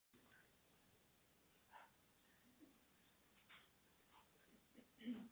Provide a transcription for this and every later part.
v. BAYER HEALTHCARE v. WATSON PHARMA v. BAYER HEALTHCARE v. WATSON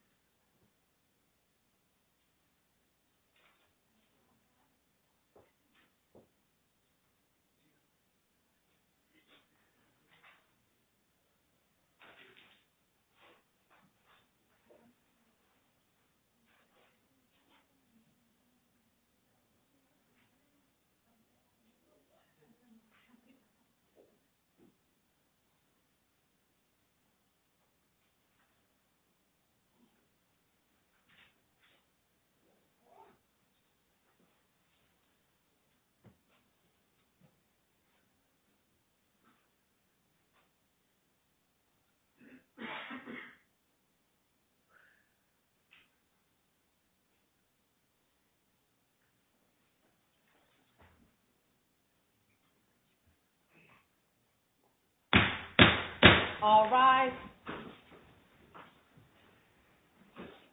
All rise.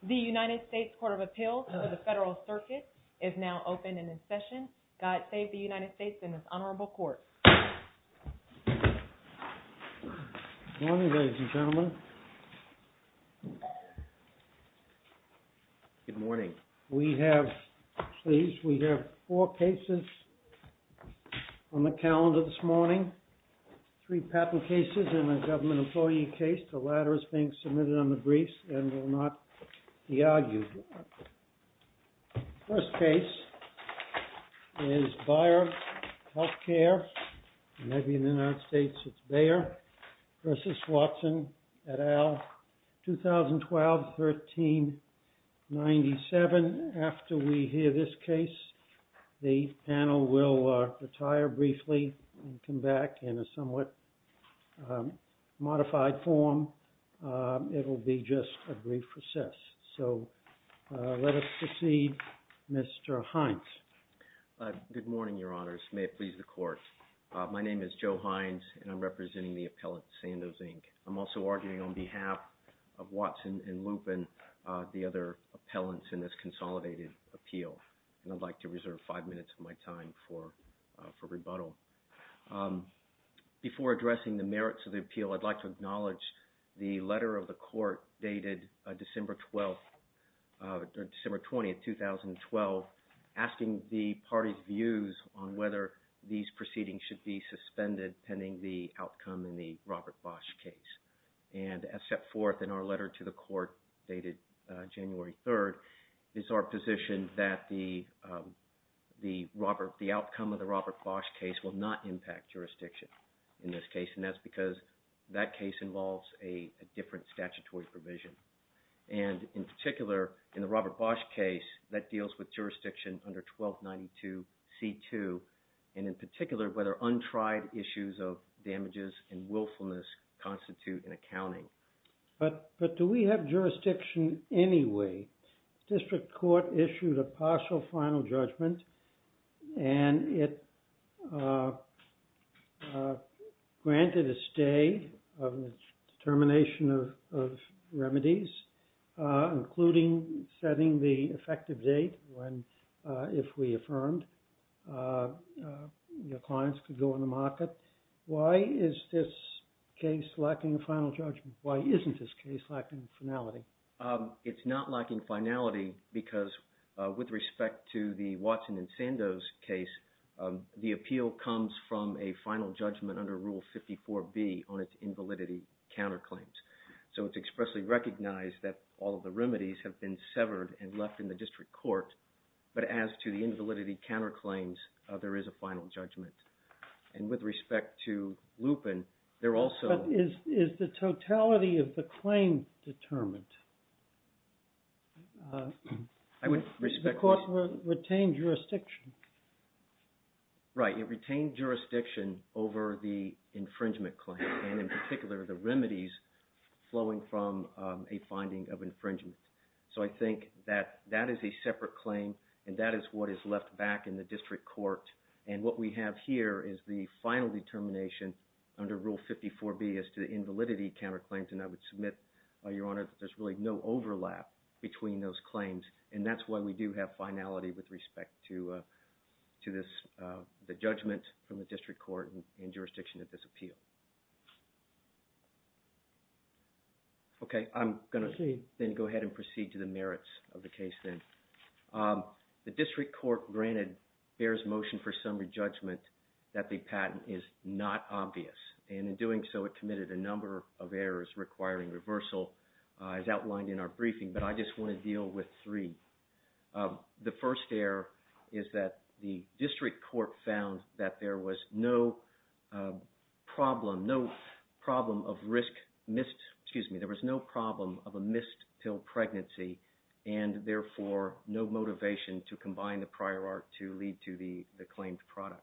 The United States Court of Appeals for the Federal Circuit is now open and in session. God save the United States and this honorable court. Good morning, ladies and gentlemen. Good morning. We have, please, we have four cases on the calendar this morning. Three patent cases and a government employee case. The latter is being submitted on the briefs and will not be argued. First case is BAYER HEALTHCARE. Maybe in the United States it's BAYER v. WATSON et al. 2012-1397. After we hear this case, the panel will retire briefly and come back in a somewhat modified form. It will be just a brief recess. So let us proceed. Mr. Hines. Good morning, your honors. May it please the court. My name is Joe Hines and I'm representing the appellant, Sandoz, Inc. I'm also arguing on behalf of Watson and Lupin, the other appellants in this consolidated appeal. And I'd like to reserve five minutes of my time for rebuttal. Before addressing the merits of the appeal, I'd like to acknowledge the letter of the court dated December 20th, 2012, asking the party's views on whether these proceedings should be suspended pending the outcome in the Robert Bosch case. And as set forth in our letter to the court dated January 3rd, it's our position that the outcome of the Robert Bosch case will not impact jurisdiction in this case. And that's because that case involves a different statutory provision. And in particular, in the Robert Bosch case, that deals with jurisdiction under 1292 C.2. And in particular, whether untried issues of damages and willfulness constitute an accounting. But do we have jurisdiction anyway? The district court issued a partial final judgment and it granted a stay of termination of remedies, including setting the effective date when, if we affirmed, the clients could go on the market. Why is this case lacking a final judgment? Why isn't this case lacking finality? It's not lacking finality because with respect to the Watson and Sandoz case, the appeal comes from a final judgment under Rule 54B on its invalidity counterclaims. So it's expressly recognized that all of the remedies have been severed and left in the district court. But as to the invalidity counterclaims, there is a final judgment. And with respect to Lupin, they're also... Is the totality of the claim determined? The court retained jurisdiction. Right, it retained jurisdiction over the infringement claim and in particular, the remedies flowing from a finding of infringement. So I think that that is a separate claim and that is what is left back in the district court. And what we have here is the final determination under Rule 54B as to the invalidity counterclaims. And I would submit, Your Honor, that there's really no overlap between those claims. And that's why we do have finality with respect to the judgment from the district court in jurisdiction of this appeal. Okay, I'm going to then go ahead and proceed to the merits of the case then. The district court granted Behr's motion for summary judgment that the patent is not obvious. And in doing so, it committed a number of errors requiring reversal as outlined in our briefing. But I just want to deal with three. The first error is that the district court found that there was no problem of a missed-till pregnancy and therefore, no motivation to combine the prior art to lead to the claimed product.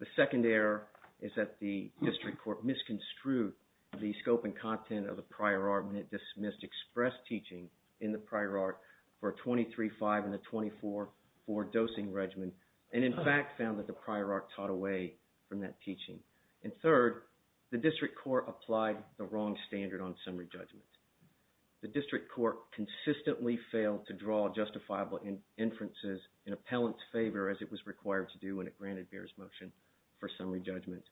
The second error is that the district court misconstrued the scope and content of the prior art when it dismissed express teaching in the prior art for a 23-5 and a 24-4 dosing regimen. And in fact, found that the prior art taught away from that teaching. And third, the district court applied the wrong standard on summary judgment. The district court consistently failed to draw justifiable inferences in appellant's favor as it was required to do when it granted Behr's motion for summary judgment.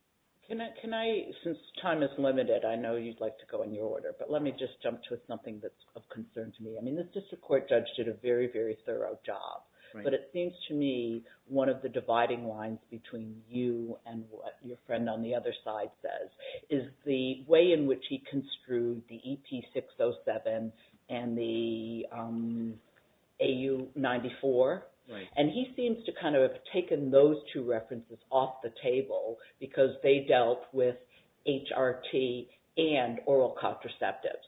Can I – since time is limited, I know you'd like to go in your order. But let me just jump to something that's of concern to me. I mean, the district court judge did a very, very thorough job. But it seems to me one of the dividing lines between you and what your friend on the other side says is the way in which he construed the EP-607 and the AU-94. And he seems to kind of have taken those two references off the table because they dealt with HRT and oral contraceptives.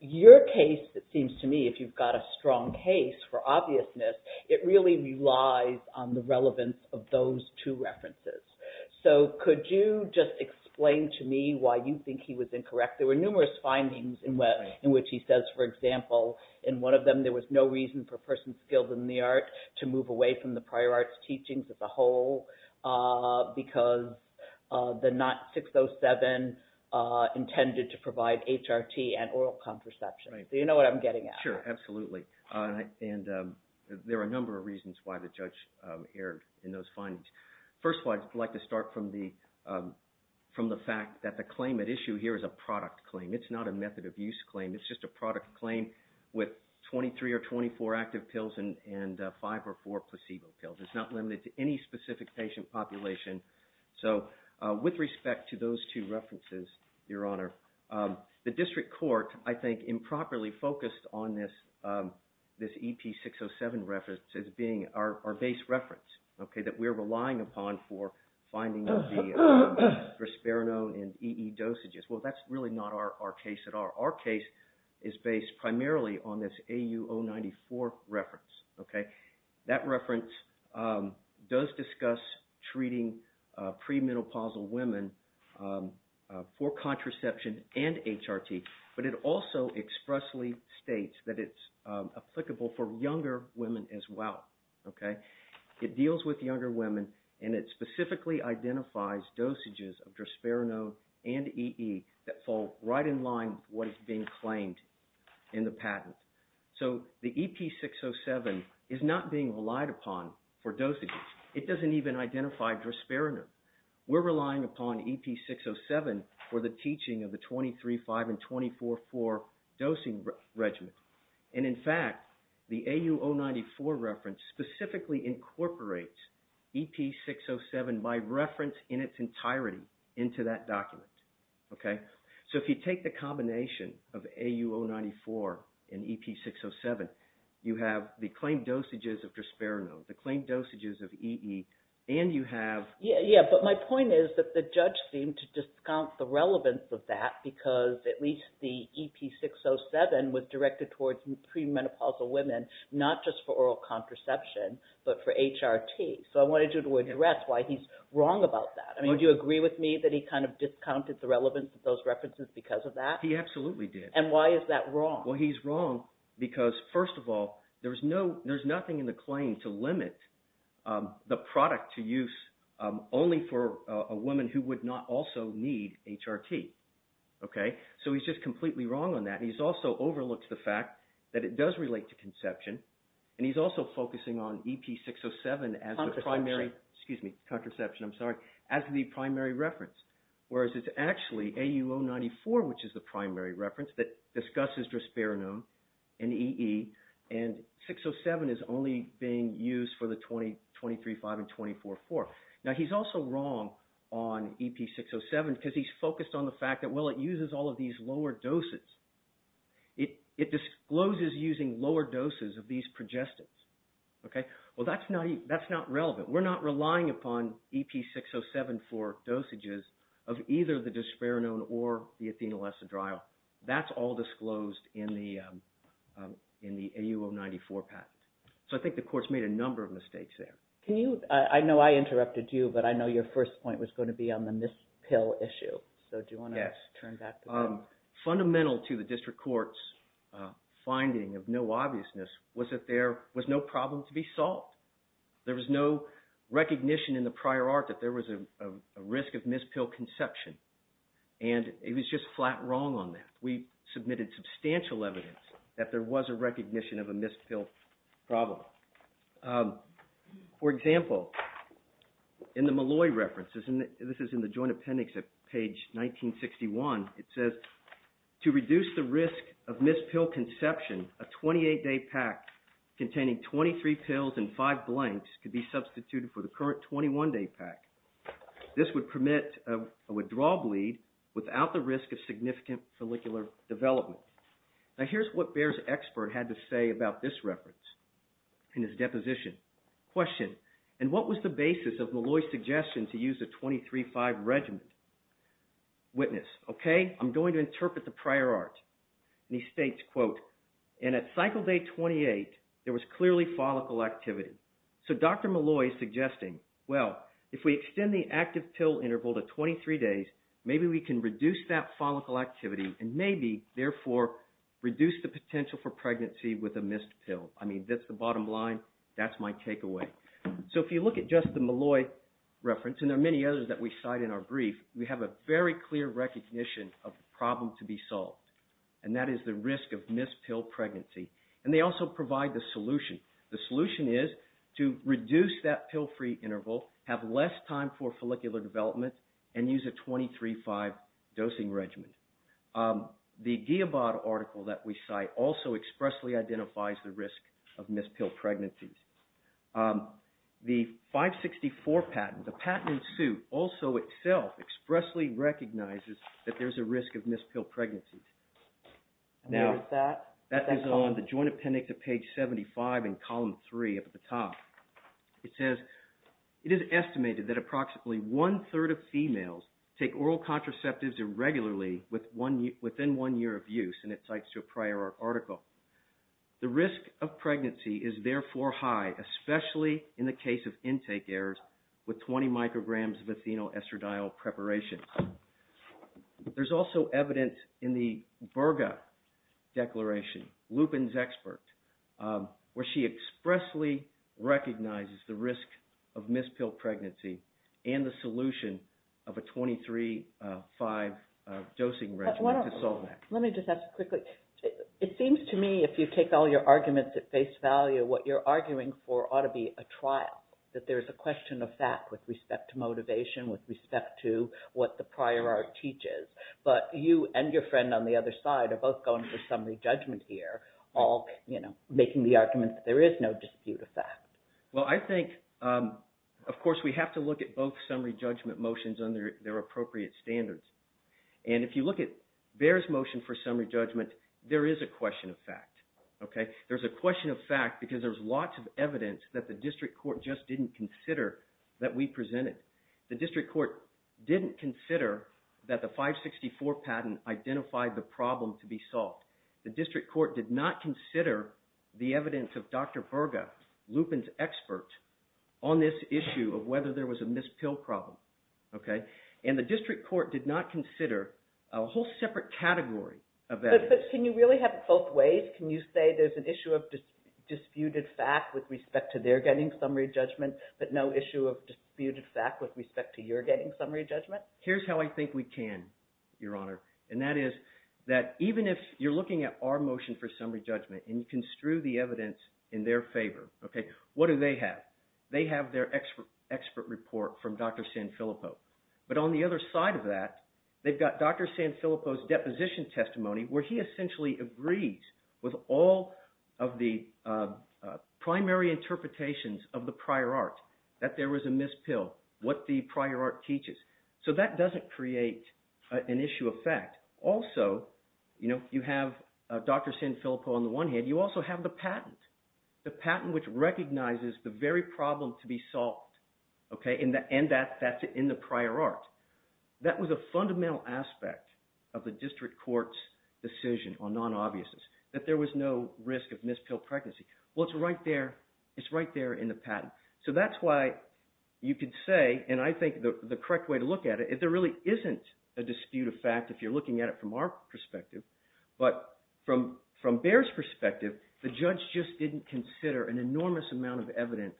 Your case, it seems to me, if you've got a strong case for obviousness, it really relies on the relevance of those two references. So could you just explain to me why you think he was incorrect? There were numerous findings in which he says, for example, in one of them there was no reason for a person skilled in the art to move away from the prior arts teachings as a whole because the NOT-607 intended to provide HRT and oral contraception. So you know what I'm getting at. Sure, absolutely. And there are a number of reasons why the judge erred in those findings. First of all, I'd like to start from the fact that the claim at issue here is a product claim. It's not a method of use claim. It's just a product claim with 23 or 24 active pills and five or four placebo pills. It's not limited to any specific patient population. So with respect to those two references, Your Honor, the district court, I think, improperly focused on this EP-607 reference as being our base reference that we're relying upon for finding the Drosperinone and EE dosages. Well, that's really not our case at all. Our case is based primarily on this AU-094 reference. That reference does discuss treating premenopausal women for contraception and HRT, but it also expressly states that it's applicable for younger women as well. It deals with younger women, and it specifically identifies dosages of Drosperinone and EE that fall right in line with what is being claimed in the patent. So the EP-607 is not being relied upon for dosages. It doesn't even identify Drosperinone. We're relying upon EP-607 for the teaching of the 23-5 and 24-4 dosing regimen, and in fact, the AU-094 reference specifically incorporates EP-607 by reference in its entirety into that document. So if you take the combination of AU-094 and EP-607, you have the claimed dosages of Drosperinone, the claimed dosages of EE, and you have… Yeah, but my point is that the judge seemed to discount the relevance of that because at least the EP-607 was directed towards premenopausal women, not just for oral contraception, but for HRT. So I wanted you to address why he's wrong about that. Do you agree with me that he kind of discounted the relevance of those references because of that? He absolutely did. And why is that wrong? Well, he's wrong because, first of all, there's nothing in the claim to limit the product to use only for a woman who would not also need HRT. So he's just completely wrong on that. He's also overlooked the fact that it does relate to conception, and he's also focusing on EP-607 as the primary… Contraception. Excuse me, contraception. I'm sorry. As the primary reference, whereas it's actually AU-094, which is the primary reference that discusses Drosperinone and EE, and 607 is only being used for the 20, 23-5, and 24-4. Now, he's also wrong on EP-607 because he's focused on the fact that, well, it uses all of these lower doses. It discloses using lower doses of these progestins. Okay? Well, that's not relevant. We're not relying upon EP-607 for dosages of either the Drosperinone or the athenalessadryl. That's all disclosed in the AU-094 patent. So I think the court's made a number of mistakes there. Can you – I know I interrupted you, but I know your first point was going to be on the mispill issue. So do you want to turn back to that? Yes. Fundamental to the district court's finding of no obviousness was that there was no problem to be solved. There was no recognition in the prior art that there was a risk of mispill conception, and it was just flat wrong on that. We submitted substantial evidence that there was a recognition of a mispill problem. For example, in the Malloy references, and this is in the Joint Appendix at page 1961, it says, to reduce the risk of mispill conception, a 28-day pack containing 23 pills and 5 blanks could be substituted for the current 21-day pack. This would permit a withdrawal bleed without the risk of significant follicular development. Now here's what Bayer's expert had to say about this reference in his deposition. Question, and what was the basis of Malloy's suggestion to use a 23-5 regimen? Witness, okay, I'm going to interpret the prior art. And he states, quote, and at cycle day 28, there was clearly follicle activity. So Dr. Malloy is suggesting, well, if we extend the active pill interval to 23 days, maybe we can reduce that follicle activity and maybe, therefore, reduce the potential for pregnancy with a missed pill. I mean, that's the bottom line. That's my takeaway. So if you look at just the Malloy reference, and there are many others that we cite in our brief, we have a very clear recognition of the problem to be solved, and that is the risk of mispill pregnancy. And they also provide the solution. The solution is to reduce that pill-free interval, have less time for follicular development, and use a 23-5 dosing regimen. The Giobat article that we cite also expressly identifies the risk of mispilled pregnancies. The 564 patent, the patent in suit, also itself expressly recognizes that there's a risk of mispilled pregnancies. Now, that is on the joint appendix of page 75 in column 3 at the top. It says, it is estimated that approximately one-third of females take oral contraceptives irregularly within one year of use, and it cites to a prior article. The risk of pregnancy is, therefore, high, especially in the case of intake errors with 20 micrograms of athenoestradiol preparation. There's also evidence in the Burga Declaration, Lupin's expert, where she expressly recognizes the risk of mispilled pregnancy and the solution of a 23-5 dosing regimen to SALTmac. Let me just ask quickly. It seems to me, if you take all your arguments at face value, what you're arguing for ought to be a trial, that there's a question of fact with respect to motivation, with respect to what the prior art teaches, but you and your friend on the other side are both going for summary judgment here, all making the argument that there is no dispute of fact. Well, I think, of course, we have to look at both summary judgment motions under their appropriate standards, and if you look at Bayer's motion for summary judgment, there is a question of fact. There's a question of fact because there's lots of evidence that the district court just didn't consider that we presented. The district court didn't consider that the 564 patent identified the problem to be solved. The district court did not consider the evidence of Dr. Burga, Lupin's expert, on this issue of whether there was a mispilled problem. And the district court did not consider a whole separate category of evidence. But can you really have it both ways? Can you say there's an issue of disputed fact with respect to their getting summary judgment, but no issue of disputed fact with respect to your getting summary judgment? Here's how I think we can, Your Honor, and that is that even if you're looking at our motion for summary judgment and you construe the evidence in their favor, what do they have? They have their expert report from Dr. Sanfilippo. But on the other side of that, they've got Dr. Sanfilippo's deposition testimony where he essentially agrees with all of the primary interpretations of the prior art, that there was a mispilled, what the prior art teaches. So that doesn't create an issue of fact. Also, you have Dr. Sanfilippo on the one hand. You also have the patent, the patent which recognizes the very problem to be solved, and that's in the prior art. That was a fundamental aspect of the district court's decision on non-obviousness, that there was no risk of mispilled pregnancy. Well, it's right there. It's right there in the patent. So that's why you could say, and I think the correct way to look at it is there really isn't a dispute of fact if you're looking at it from our perspective. But from Bayer's perspective, the judge just didn't consider an enormous amount of evidence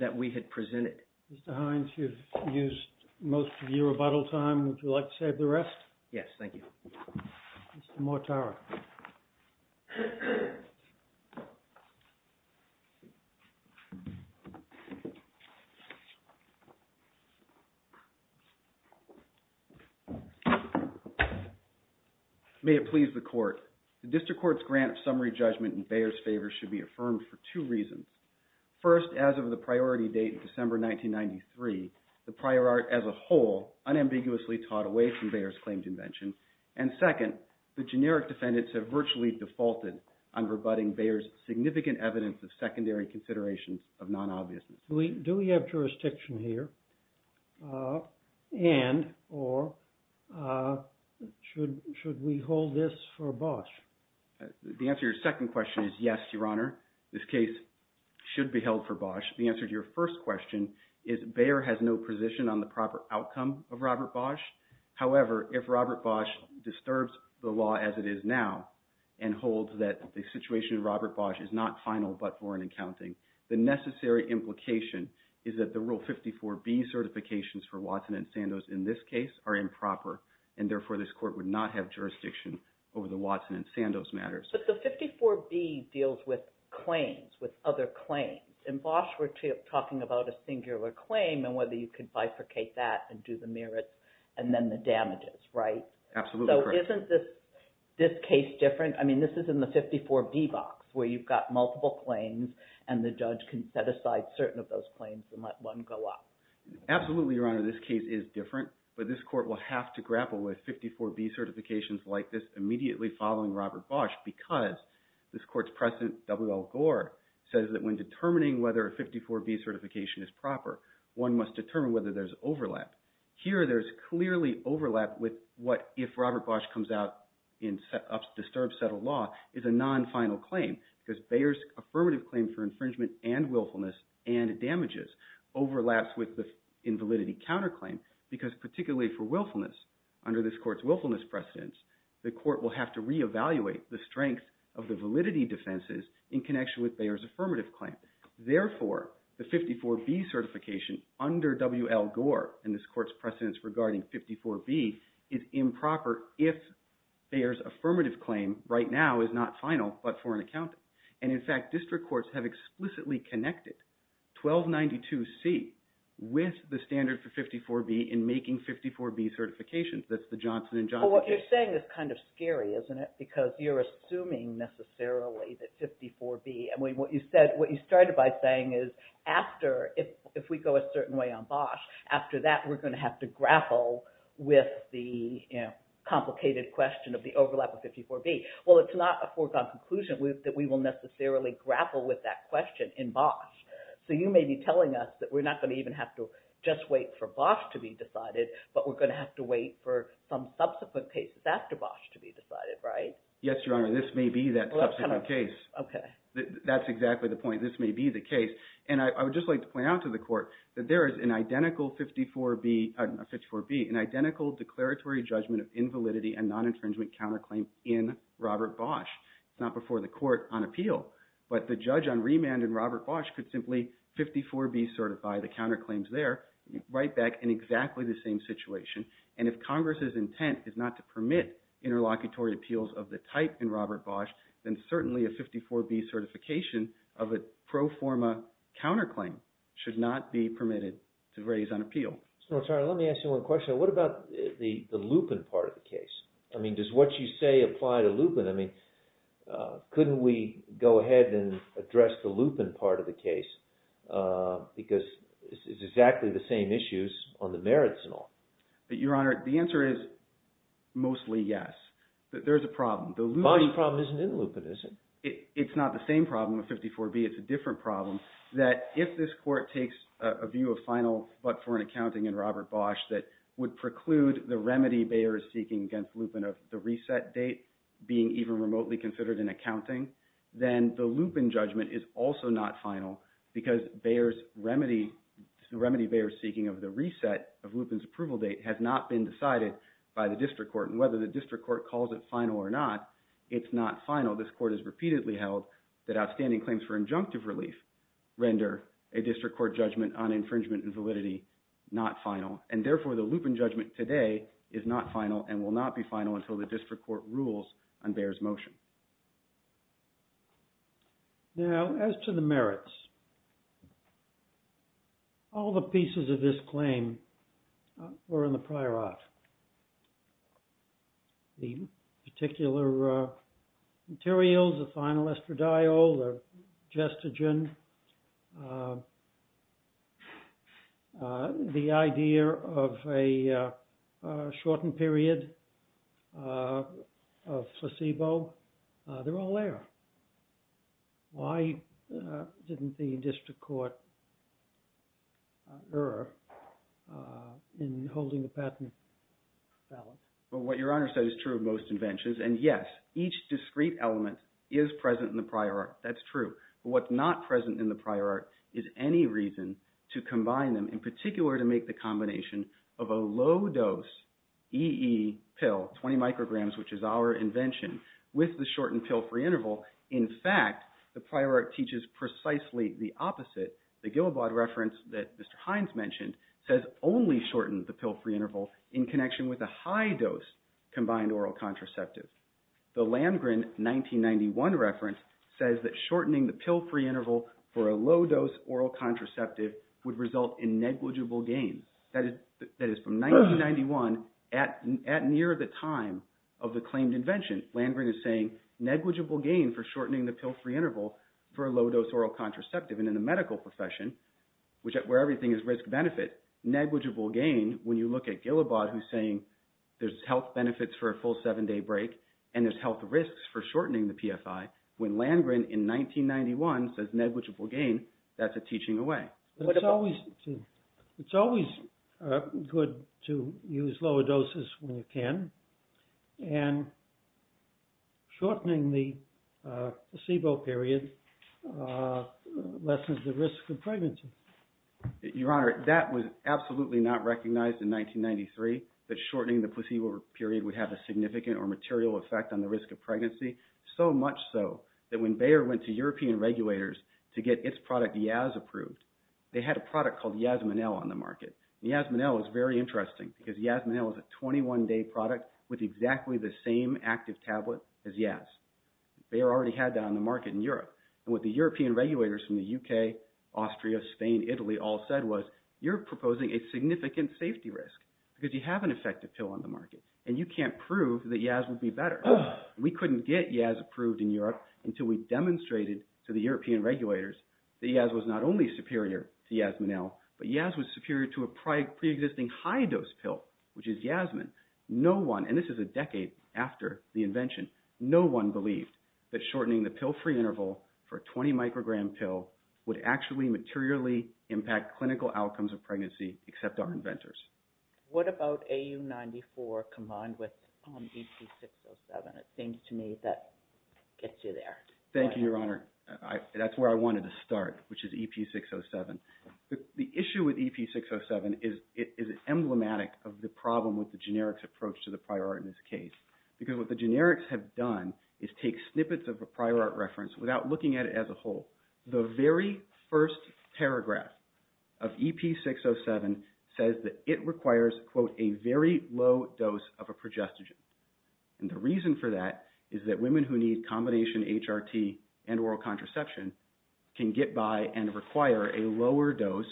that we had presented. Mr. Hines, you've used most of your rebuttal time. Would you like to save the rest? Yes, thank you. Mr. Mortara. May it please the court. The district court's grant of summary judgment in Bayer's favor should be affirmed for two reasons. First, as of the priority date of December 1993, the prior art as a whole unambiguously taught away from Bayer's claimed invention. And second, the generic defendants have virtually defaulted on rebutting Bayer's significant evidence of secondary considerations of non-obviousness. Do we have jurisdiction here and or should we hold this for Bosch? The answer to your second question is yes, Your Honor. This case should be held for Bosch. The answer to your first question is Bayer has no position on the proper outcome of Robert Bosch. However, if Robert Bosch disturbs the law as it is now and holds that the situation of Robert Bosch is not final but foreign and counting, the necessary implication is that the Rule 54B certifications for Watson and Sandoz in this case are improper, and therefore this court would not have jurisdiction over the Watson and Sandoz matters. But the 54B deals with claims, with other claims. In Bosch, we're talking about a singular claim and whether you could bifurcate that and do the merits and then the damages, right? Absolutely correct. So isn't this case different? I mean this is in the 54B box where you've got multiple claims and the judge can set aside certain of those claims and let one go up. Absolutely, Your Honor. This case is different, but this court will have to grapple with 54B certifications like this immediately following Robert Bosch because this court's precedent, W.L. Gore, says that when determining whether a 54B certification is proper, one must determine whether there's overlap. Here there's clearly overlap with what if Robert Bosch comes out and disturbs settled law is a non-final claim because Bayer's affirmative claim for infringement and willfulness and damages overlaps with the invalidity counterclaim because particularly for willfulness, under this court's willfulness precedence, the court will have to reevaluate the strength of the validity defenses in connection with Bayer's affirmative claim. Therefore, the 54B certification under W.L. Gore and this court's precedence regarding 54B is improper if Bayer's affirmative claim right now is not final but for an accountant. In fact, district courts have explicitly connected 1292C with the standard for 54B in making 54B certifications. That's the Johnson and Johnson case. What you're saying is kind of scary, isn't it, because you're assuming necessarily that 54B – what you started by saying is after, if we go a certain way on Bosch, after that we're going to have to grapple with the complicated question of the overlap of 54B. Well, it's not a foregone conclusion that we will necessarily grapple with that question in Bosch. So you may be telling us that we're not going to even have to just wait for Bosch to be decided, but we're going to have to wait for some subsequent cases after Bosch to be decided, right? Yes, Your Honor. This may be that subsequent case. Okay. That's exactly the point. This may be the case. And I would just like to point out to the Court that there is an identical 54B, an identical declaratory judgment of invalidity and non-infringement counterclaim in Robert Bosch. It's not before the Court on appeal, but the judge on remand in Robert Bosch could simply 54B certify the counterclaims there, right back in exactly the same situation. And if Congress's intent is not to permit interlocutory appeals of the type in Robert Bosch, then certainly a 54B certification of a pro forma counterclaim should not be permitted to raise on appeal. Mr. Notaro, let me ask you one question. What about the lupin part of the case? I mean, does what you say apply to lupin? I mean, couldn't we go ahead and address the lupin part of the case because it's exactly the same issues on the merits and all? Your Honor, the answer is mostly yes. There is a problem. The body problem isn't in lupin, is it? It's not the same problem of 54B. It's a different problem that if this Court takes a view of final but for an accounting in Robert Bosch that would preclude the remedy Bayer is seeking against lupin of the reset date being even remotely considered in accounting, then the lupin judgment is also not final because Bayer's remedy, the remedy Bayer is seeking of the reset of lupin's approval date has not been decided by the district court. And whether the district court calls it final or not, it's not final. This Court has repeatedly held that outstanding claims for injunctive relief render a district court judgment on infringement and validity not final. And therefore, the lupin judgment today is not final and will not be final until the district court rules on Bayer's motion. Now, as to the merits, all the pieces of this claim were in the prior art. The particular materials, the final estradiol, the gestogen, the idea of a shortened period of placebo, they're all there. Why didn't the district court err in holding the patent valid? Well, what your Honor said is true of most inventions. And yes, each discrete element is present in the prior art. That's true. But what's not present in the prior art is any reason to combine them, in particular to make the combination of a low-dose EE pill, 20 micrograms, which is our invention, with the shortened pill-free interval. In fact, the prior art teaches precisely the opposite. The Gillibaud reference that Mr. Hines mentioned says only shorten the pill-free interval in connection with a high-dose combined oral contraceptive. The Landgren 1991 reference says that shortening the pill-free interval for a low-dose oral contraceptive would result in negligible gain. That is from 1991 at near the time of the claimed invention. Landgren is saying negligible gain for shortening the pill-free interval for a low-dose oral contraceptive. And in the medical profession, where everything is risk-benefit, negligible gain, when you look at Gillibaud who's saying there's health benefits for a full seven-day break and there's health risks for shortening the PFI, when Landgren in 1991 says negligible gain, that's a teaching away. It's always good to use lower doses when you can. And shortening the placebo period lessens the risk of pregnancy. Your Honor, that was absolutely not recognized in 1993, that shortening the placebo period would have a significant or material effect on the risk of pregnancy, so much so that when Bayer went to European regulators to get its product, Yaz, approved, they had a product called Yazminel on the market. Yazminel is very interesting because Yazminel is a 21-day product with exactly the same active tablet as Yaz. Bayer already had that on the market in Europe. And what the European regulators from the UK, Austria, Spain, Italy, all said was, you're proposing a significant safety risk because you have an effective pill on the market and you can't prove that Yaz would be better. We couldn't get Yaz approved in Europe until we demonstrated to the European regulators that Yaz was not only superior to Yazminel, but Yaz was superior to a pre-existing high-dose pill, which is Yazmin. And this is a decade after the invention. No one believed that shortening the pill-free interval for a 20-microgram pill would actually materially impact clinical outcomes of pregnancy except our inventors. What about AU94 combined with EP607? I think, to me, that gets you there. Thank you, Your Honor. That's where I wanted to start, which is EP607. The issue with EP607 is emblematic of the problem with the generics approach to the prior art in this case. Because what the generics have done is take snippets of a prior art reference without looking at it as a whole. The very first paragraph of EP607 says that it requires, quote, a very low dose of a progestogen. And the reason for that is that women who need combination HRT and oral contraception can get by and require a lower dose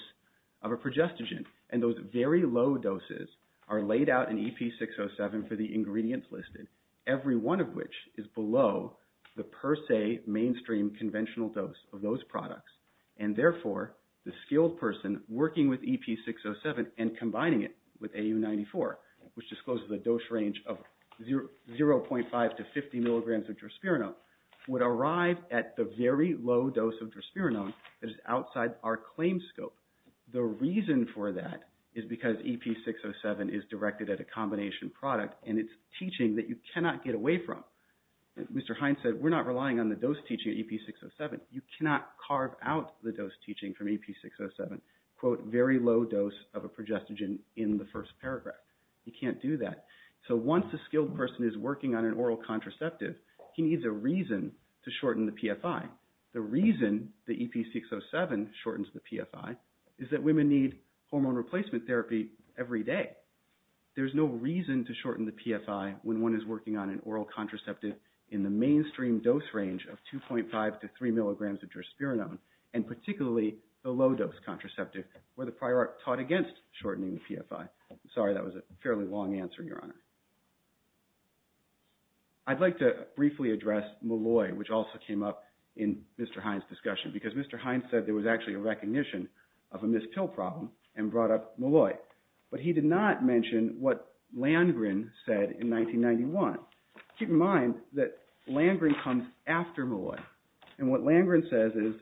of a progestogen. And those very low doses are laid out in EP607 for the ingredients listed, every one of which is below the per se mainstream conventional dose of those products. And, therefore, the skilled person working with EP607 and combining it with AU94, which discloses a dose range of 0.5 to 50 milligrams of drosperinone, would arrive at the very low dose of drosperinone that is outside our claim scope. The reason for that is because EP607 is directed at a combination product, and it's teaching that you cannot get away from. Mr. Hines said we're not relying on the dose teaching of EP607. You cannot carve out the dose teaching from EP607, quote, very low dose of a progestogen in the first paragraph. You can't do that. So once a skilled person is working on an oral contraceptive, he needs a reason to shorten the PFI. The reason the EP607 shortens the PFI is that women need hormone replacement therapy every day. There's no reason to shorten the PFI when one is working on an oral contraceptive in the mainstream dose range of 2.5 to 3 milligrams of drosperinone, and particularly the low dose contraceptive where the prior art taught against shortening the PFI. Sorry, that was a fairly long answer, Your Honor. I'd like to briefly address Molloy, which also came up in Mr. Hines' discussion, because Mr. Hines said there was actually a recognition of a missed pill problem and brought up Molloy. But he did not mention what Landgren said in 1991. Keep in mind that Landgren comes after Molloy. And what Landgren says is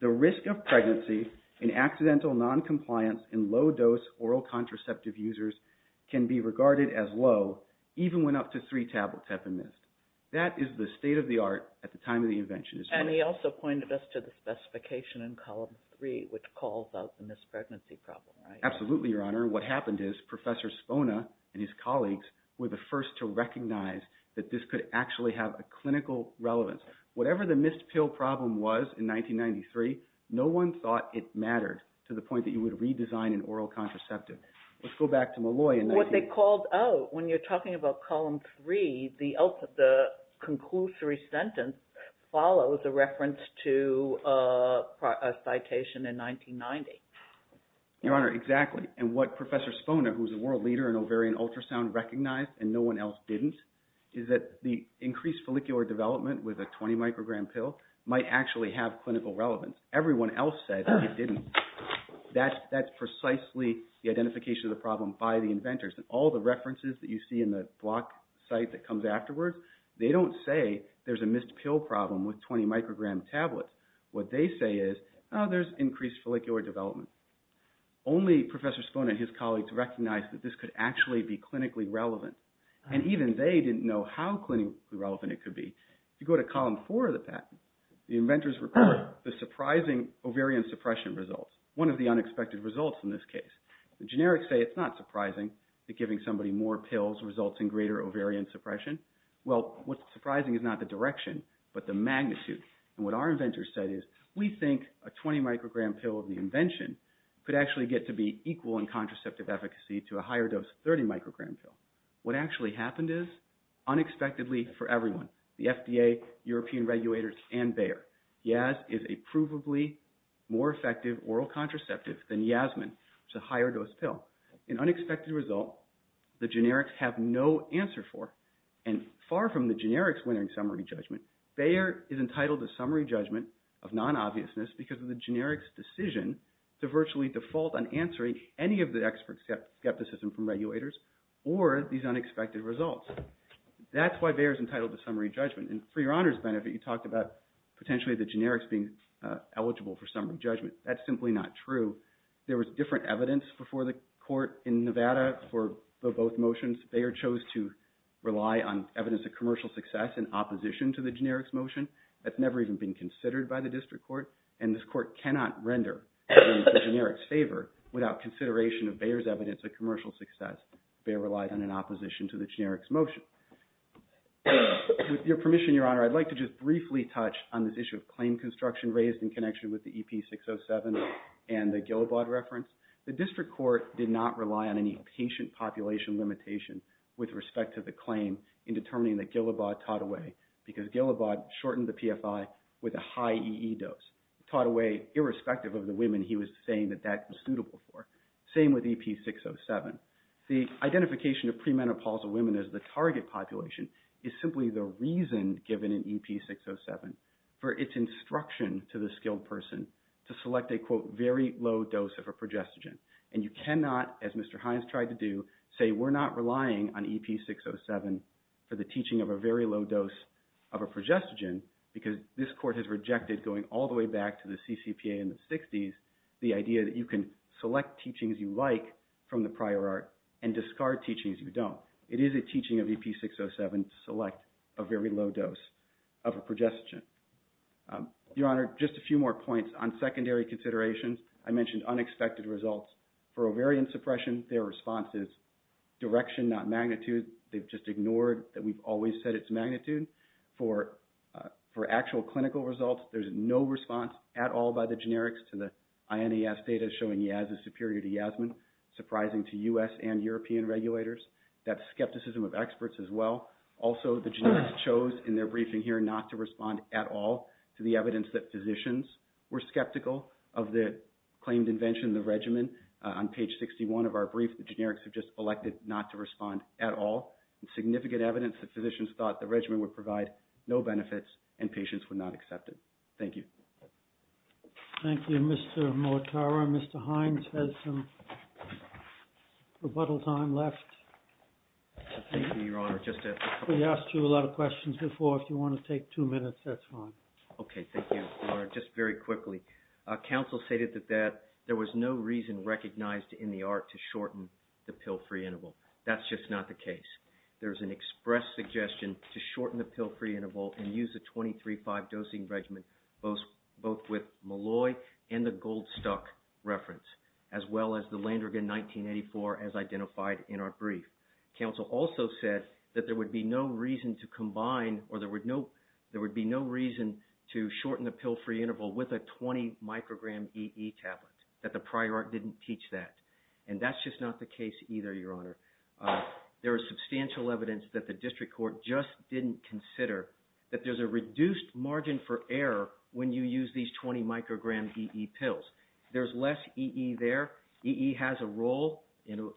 the risk of pregnancy in accidental noncompliance in low dose oral contraceptive users can be regarded as low even when up to three tablets have been missed. That is the state of the art at the time of the invention. And he also pointed us to the specification in column three, which calls out the missed pregnancy problem. Absolutely, Your Honor. What happened is Professor Spona and his colleagues were the first to recognize that this could actually have a clinical relevance. Whatever the missed pill problem was in 1993, no one thought it mattered to the point that you would redesign an oral contraceptive. Let's go back to Molloy. When you're talking about column three, the conclusory sentence follows a reference to a citation in 1990. Your Honor, exactly. And what Professor Spona, who was a world leader in ovarian ultrasound, recognized, and no one else didn't, is that the increased follicular development with a 20-microgram pill might actually have clinical relevance. Everyone else said it didn't. That's precisely the identification of the problem by the inventors. And all the references that you see in the block site that comes afterwards, they don't say there's a missed pill problem with 20-microgram tablets. What they say is, oh, there's increased follicular development. Only Professor Spona and his colleagues recognized that this could actually be clinically relevant. And even they didn't know how clinically relevant it could be. If you go to column four of the patent, the inventors report the surprising ovarian suppression results, one of the unexpected results in this case. The generics say it's not surprising that giving somebody more pills results in greater ovarian suppression. Well, what's surprising is not the direction, but the magnitude. And what our inventors said is, we think a 20-microgram pill of the invention could actually get to be equal in contraceptive efficacy to a higher-dose 30-microgram pill. What actually happened is, unexpectedly for everyone, the FDA, European regulators, and Bayer, Yaz is a provably more effective oral contraceptive than Yasmin, which is a higher-dose pill. In unexpected result, the generics have no answer for, and far from the generics winning summary judgment, Bayer is entitled to summary judgment of non-obviousness because of the generics' decision to virtually default on answering any of the expert skepticism from regulators or these unexpected results. That's why Bayer is entitled to summary judgment. And for your honor's benefit, you talked about potentially the generics being eligible for summary judgment. That's simply not true. There was different evidence before the court in Nevada for both motions. Bayer chose to rely on evidence of commercial success in opposition to the generics motion. That's never even been considered by the district court, and this court cannot render the generics favor without consideration of Bayer's evidence of commercial success. Bayer relied on an opposition to the generics motion. With your permission, your honor, I'd like to just briefly touch on this issue of claim construction raised in connection with the EP-607 and the Gilabod reference. The district court did not rely on any patient population limitation with respect to the claim in determining that Gilabod taught away because Gilabod shortened the PFI with a high EE dose, taught away irrespective of the women he was saying that that was suitable for. Same with EP-607. The identification of premenopausal women as the target population is simply the reason given in EP-607 for its instruction to the skilled person to select a, quote, very low dose of a progestogen. And you cannot, as Mr. Hines tried to do, say we're not relying on EP-607 for the teaching of a very low dose of a progestogen because this court has rejected going all the way back to the CCPA in the 60s, the idea that you can select teachings you like from the prior art and discard teachings you don't. It is a teaching of EP-607 to select a very low dose of a progestogen. Your honor, just a few more points on secondary considerations. I mentioned unexpected results. For ovarian suppression, their response is direction, not magnitude. They've just ignored that we've always said it's magnitude. For actual clinical results, there's no response at all by the generics to the INAS data showing Yaz is superior to Yasmin, surprising to U.S. and European regulators. That's skepticism of experts as well. Also, the generics chose in their briefing here not to respond at all to the evidence that physicians were skeptical of the claimed invention, the regimen. On page 61 of our brief, the generics have just elected not to respond at all. Significant evidence that physicians thought the regimen would provide no benefits and patients would not accept it. Thank you. Thank you, Mr. Muattara. Mr. Hines has some rebuttal time left. Thank you, your honor. We asked you a lot of questions before. If you want to take two minutes, that's fine. Okay, thank you, your honor. Just very quickly. Council stated that there was no reason recognized in the ARC to shorten the pill-free interval. That's just not the case. There's an express suggestion to shorten the pill-free interval and use the 23-5 dosing regimen, both with Malloy and the Goldstock reference, as well as the Landrigan 1984 as identified in our brief. Council also said that there would be no reason to combine or there would be no reason to shorten the pill-free interval with a 20-microgram EE tablet, that the prior ARC didn't teach that. And that's just not the case either, your honor. There is substantial evidence that the district court just didn't consider that there's a reduced margin for error when you use these 20-microgram EE pills. There's less EE there. EE has a role in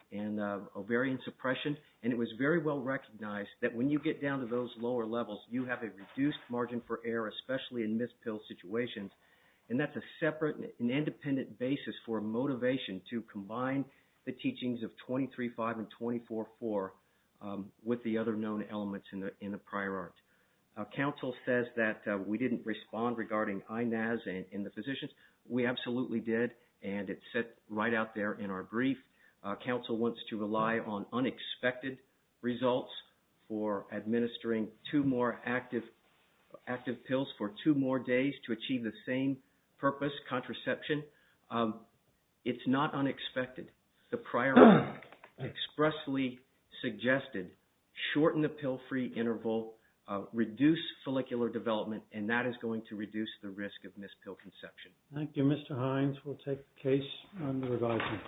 ovarian suppression. And it was very well recognized that when you get down to those lower levels, you have a reduced margin for error, especially in missed pill situations. And that's a separate and independent basis for motivation to combine the teachings of 23-5 and 24-4 with the other known elements in the prior ARC. Council says that we didn't respond regarding INAZ and the physicians. We absolutely did. And it's set right out there in our brief. Council wants to rely on unexpected results for administering two more active pills for two more days to achieve the same purpose, contraception. It's not unexpected. The prior ARC expressly suggested shorten the pill-free interval, reduce follicular development, and that is going to reduce the risk of missed pill conception. Thank you, Mr. Hines. We'll take the case under revising.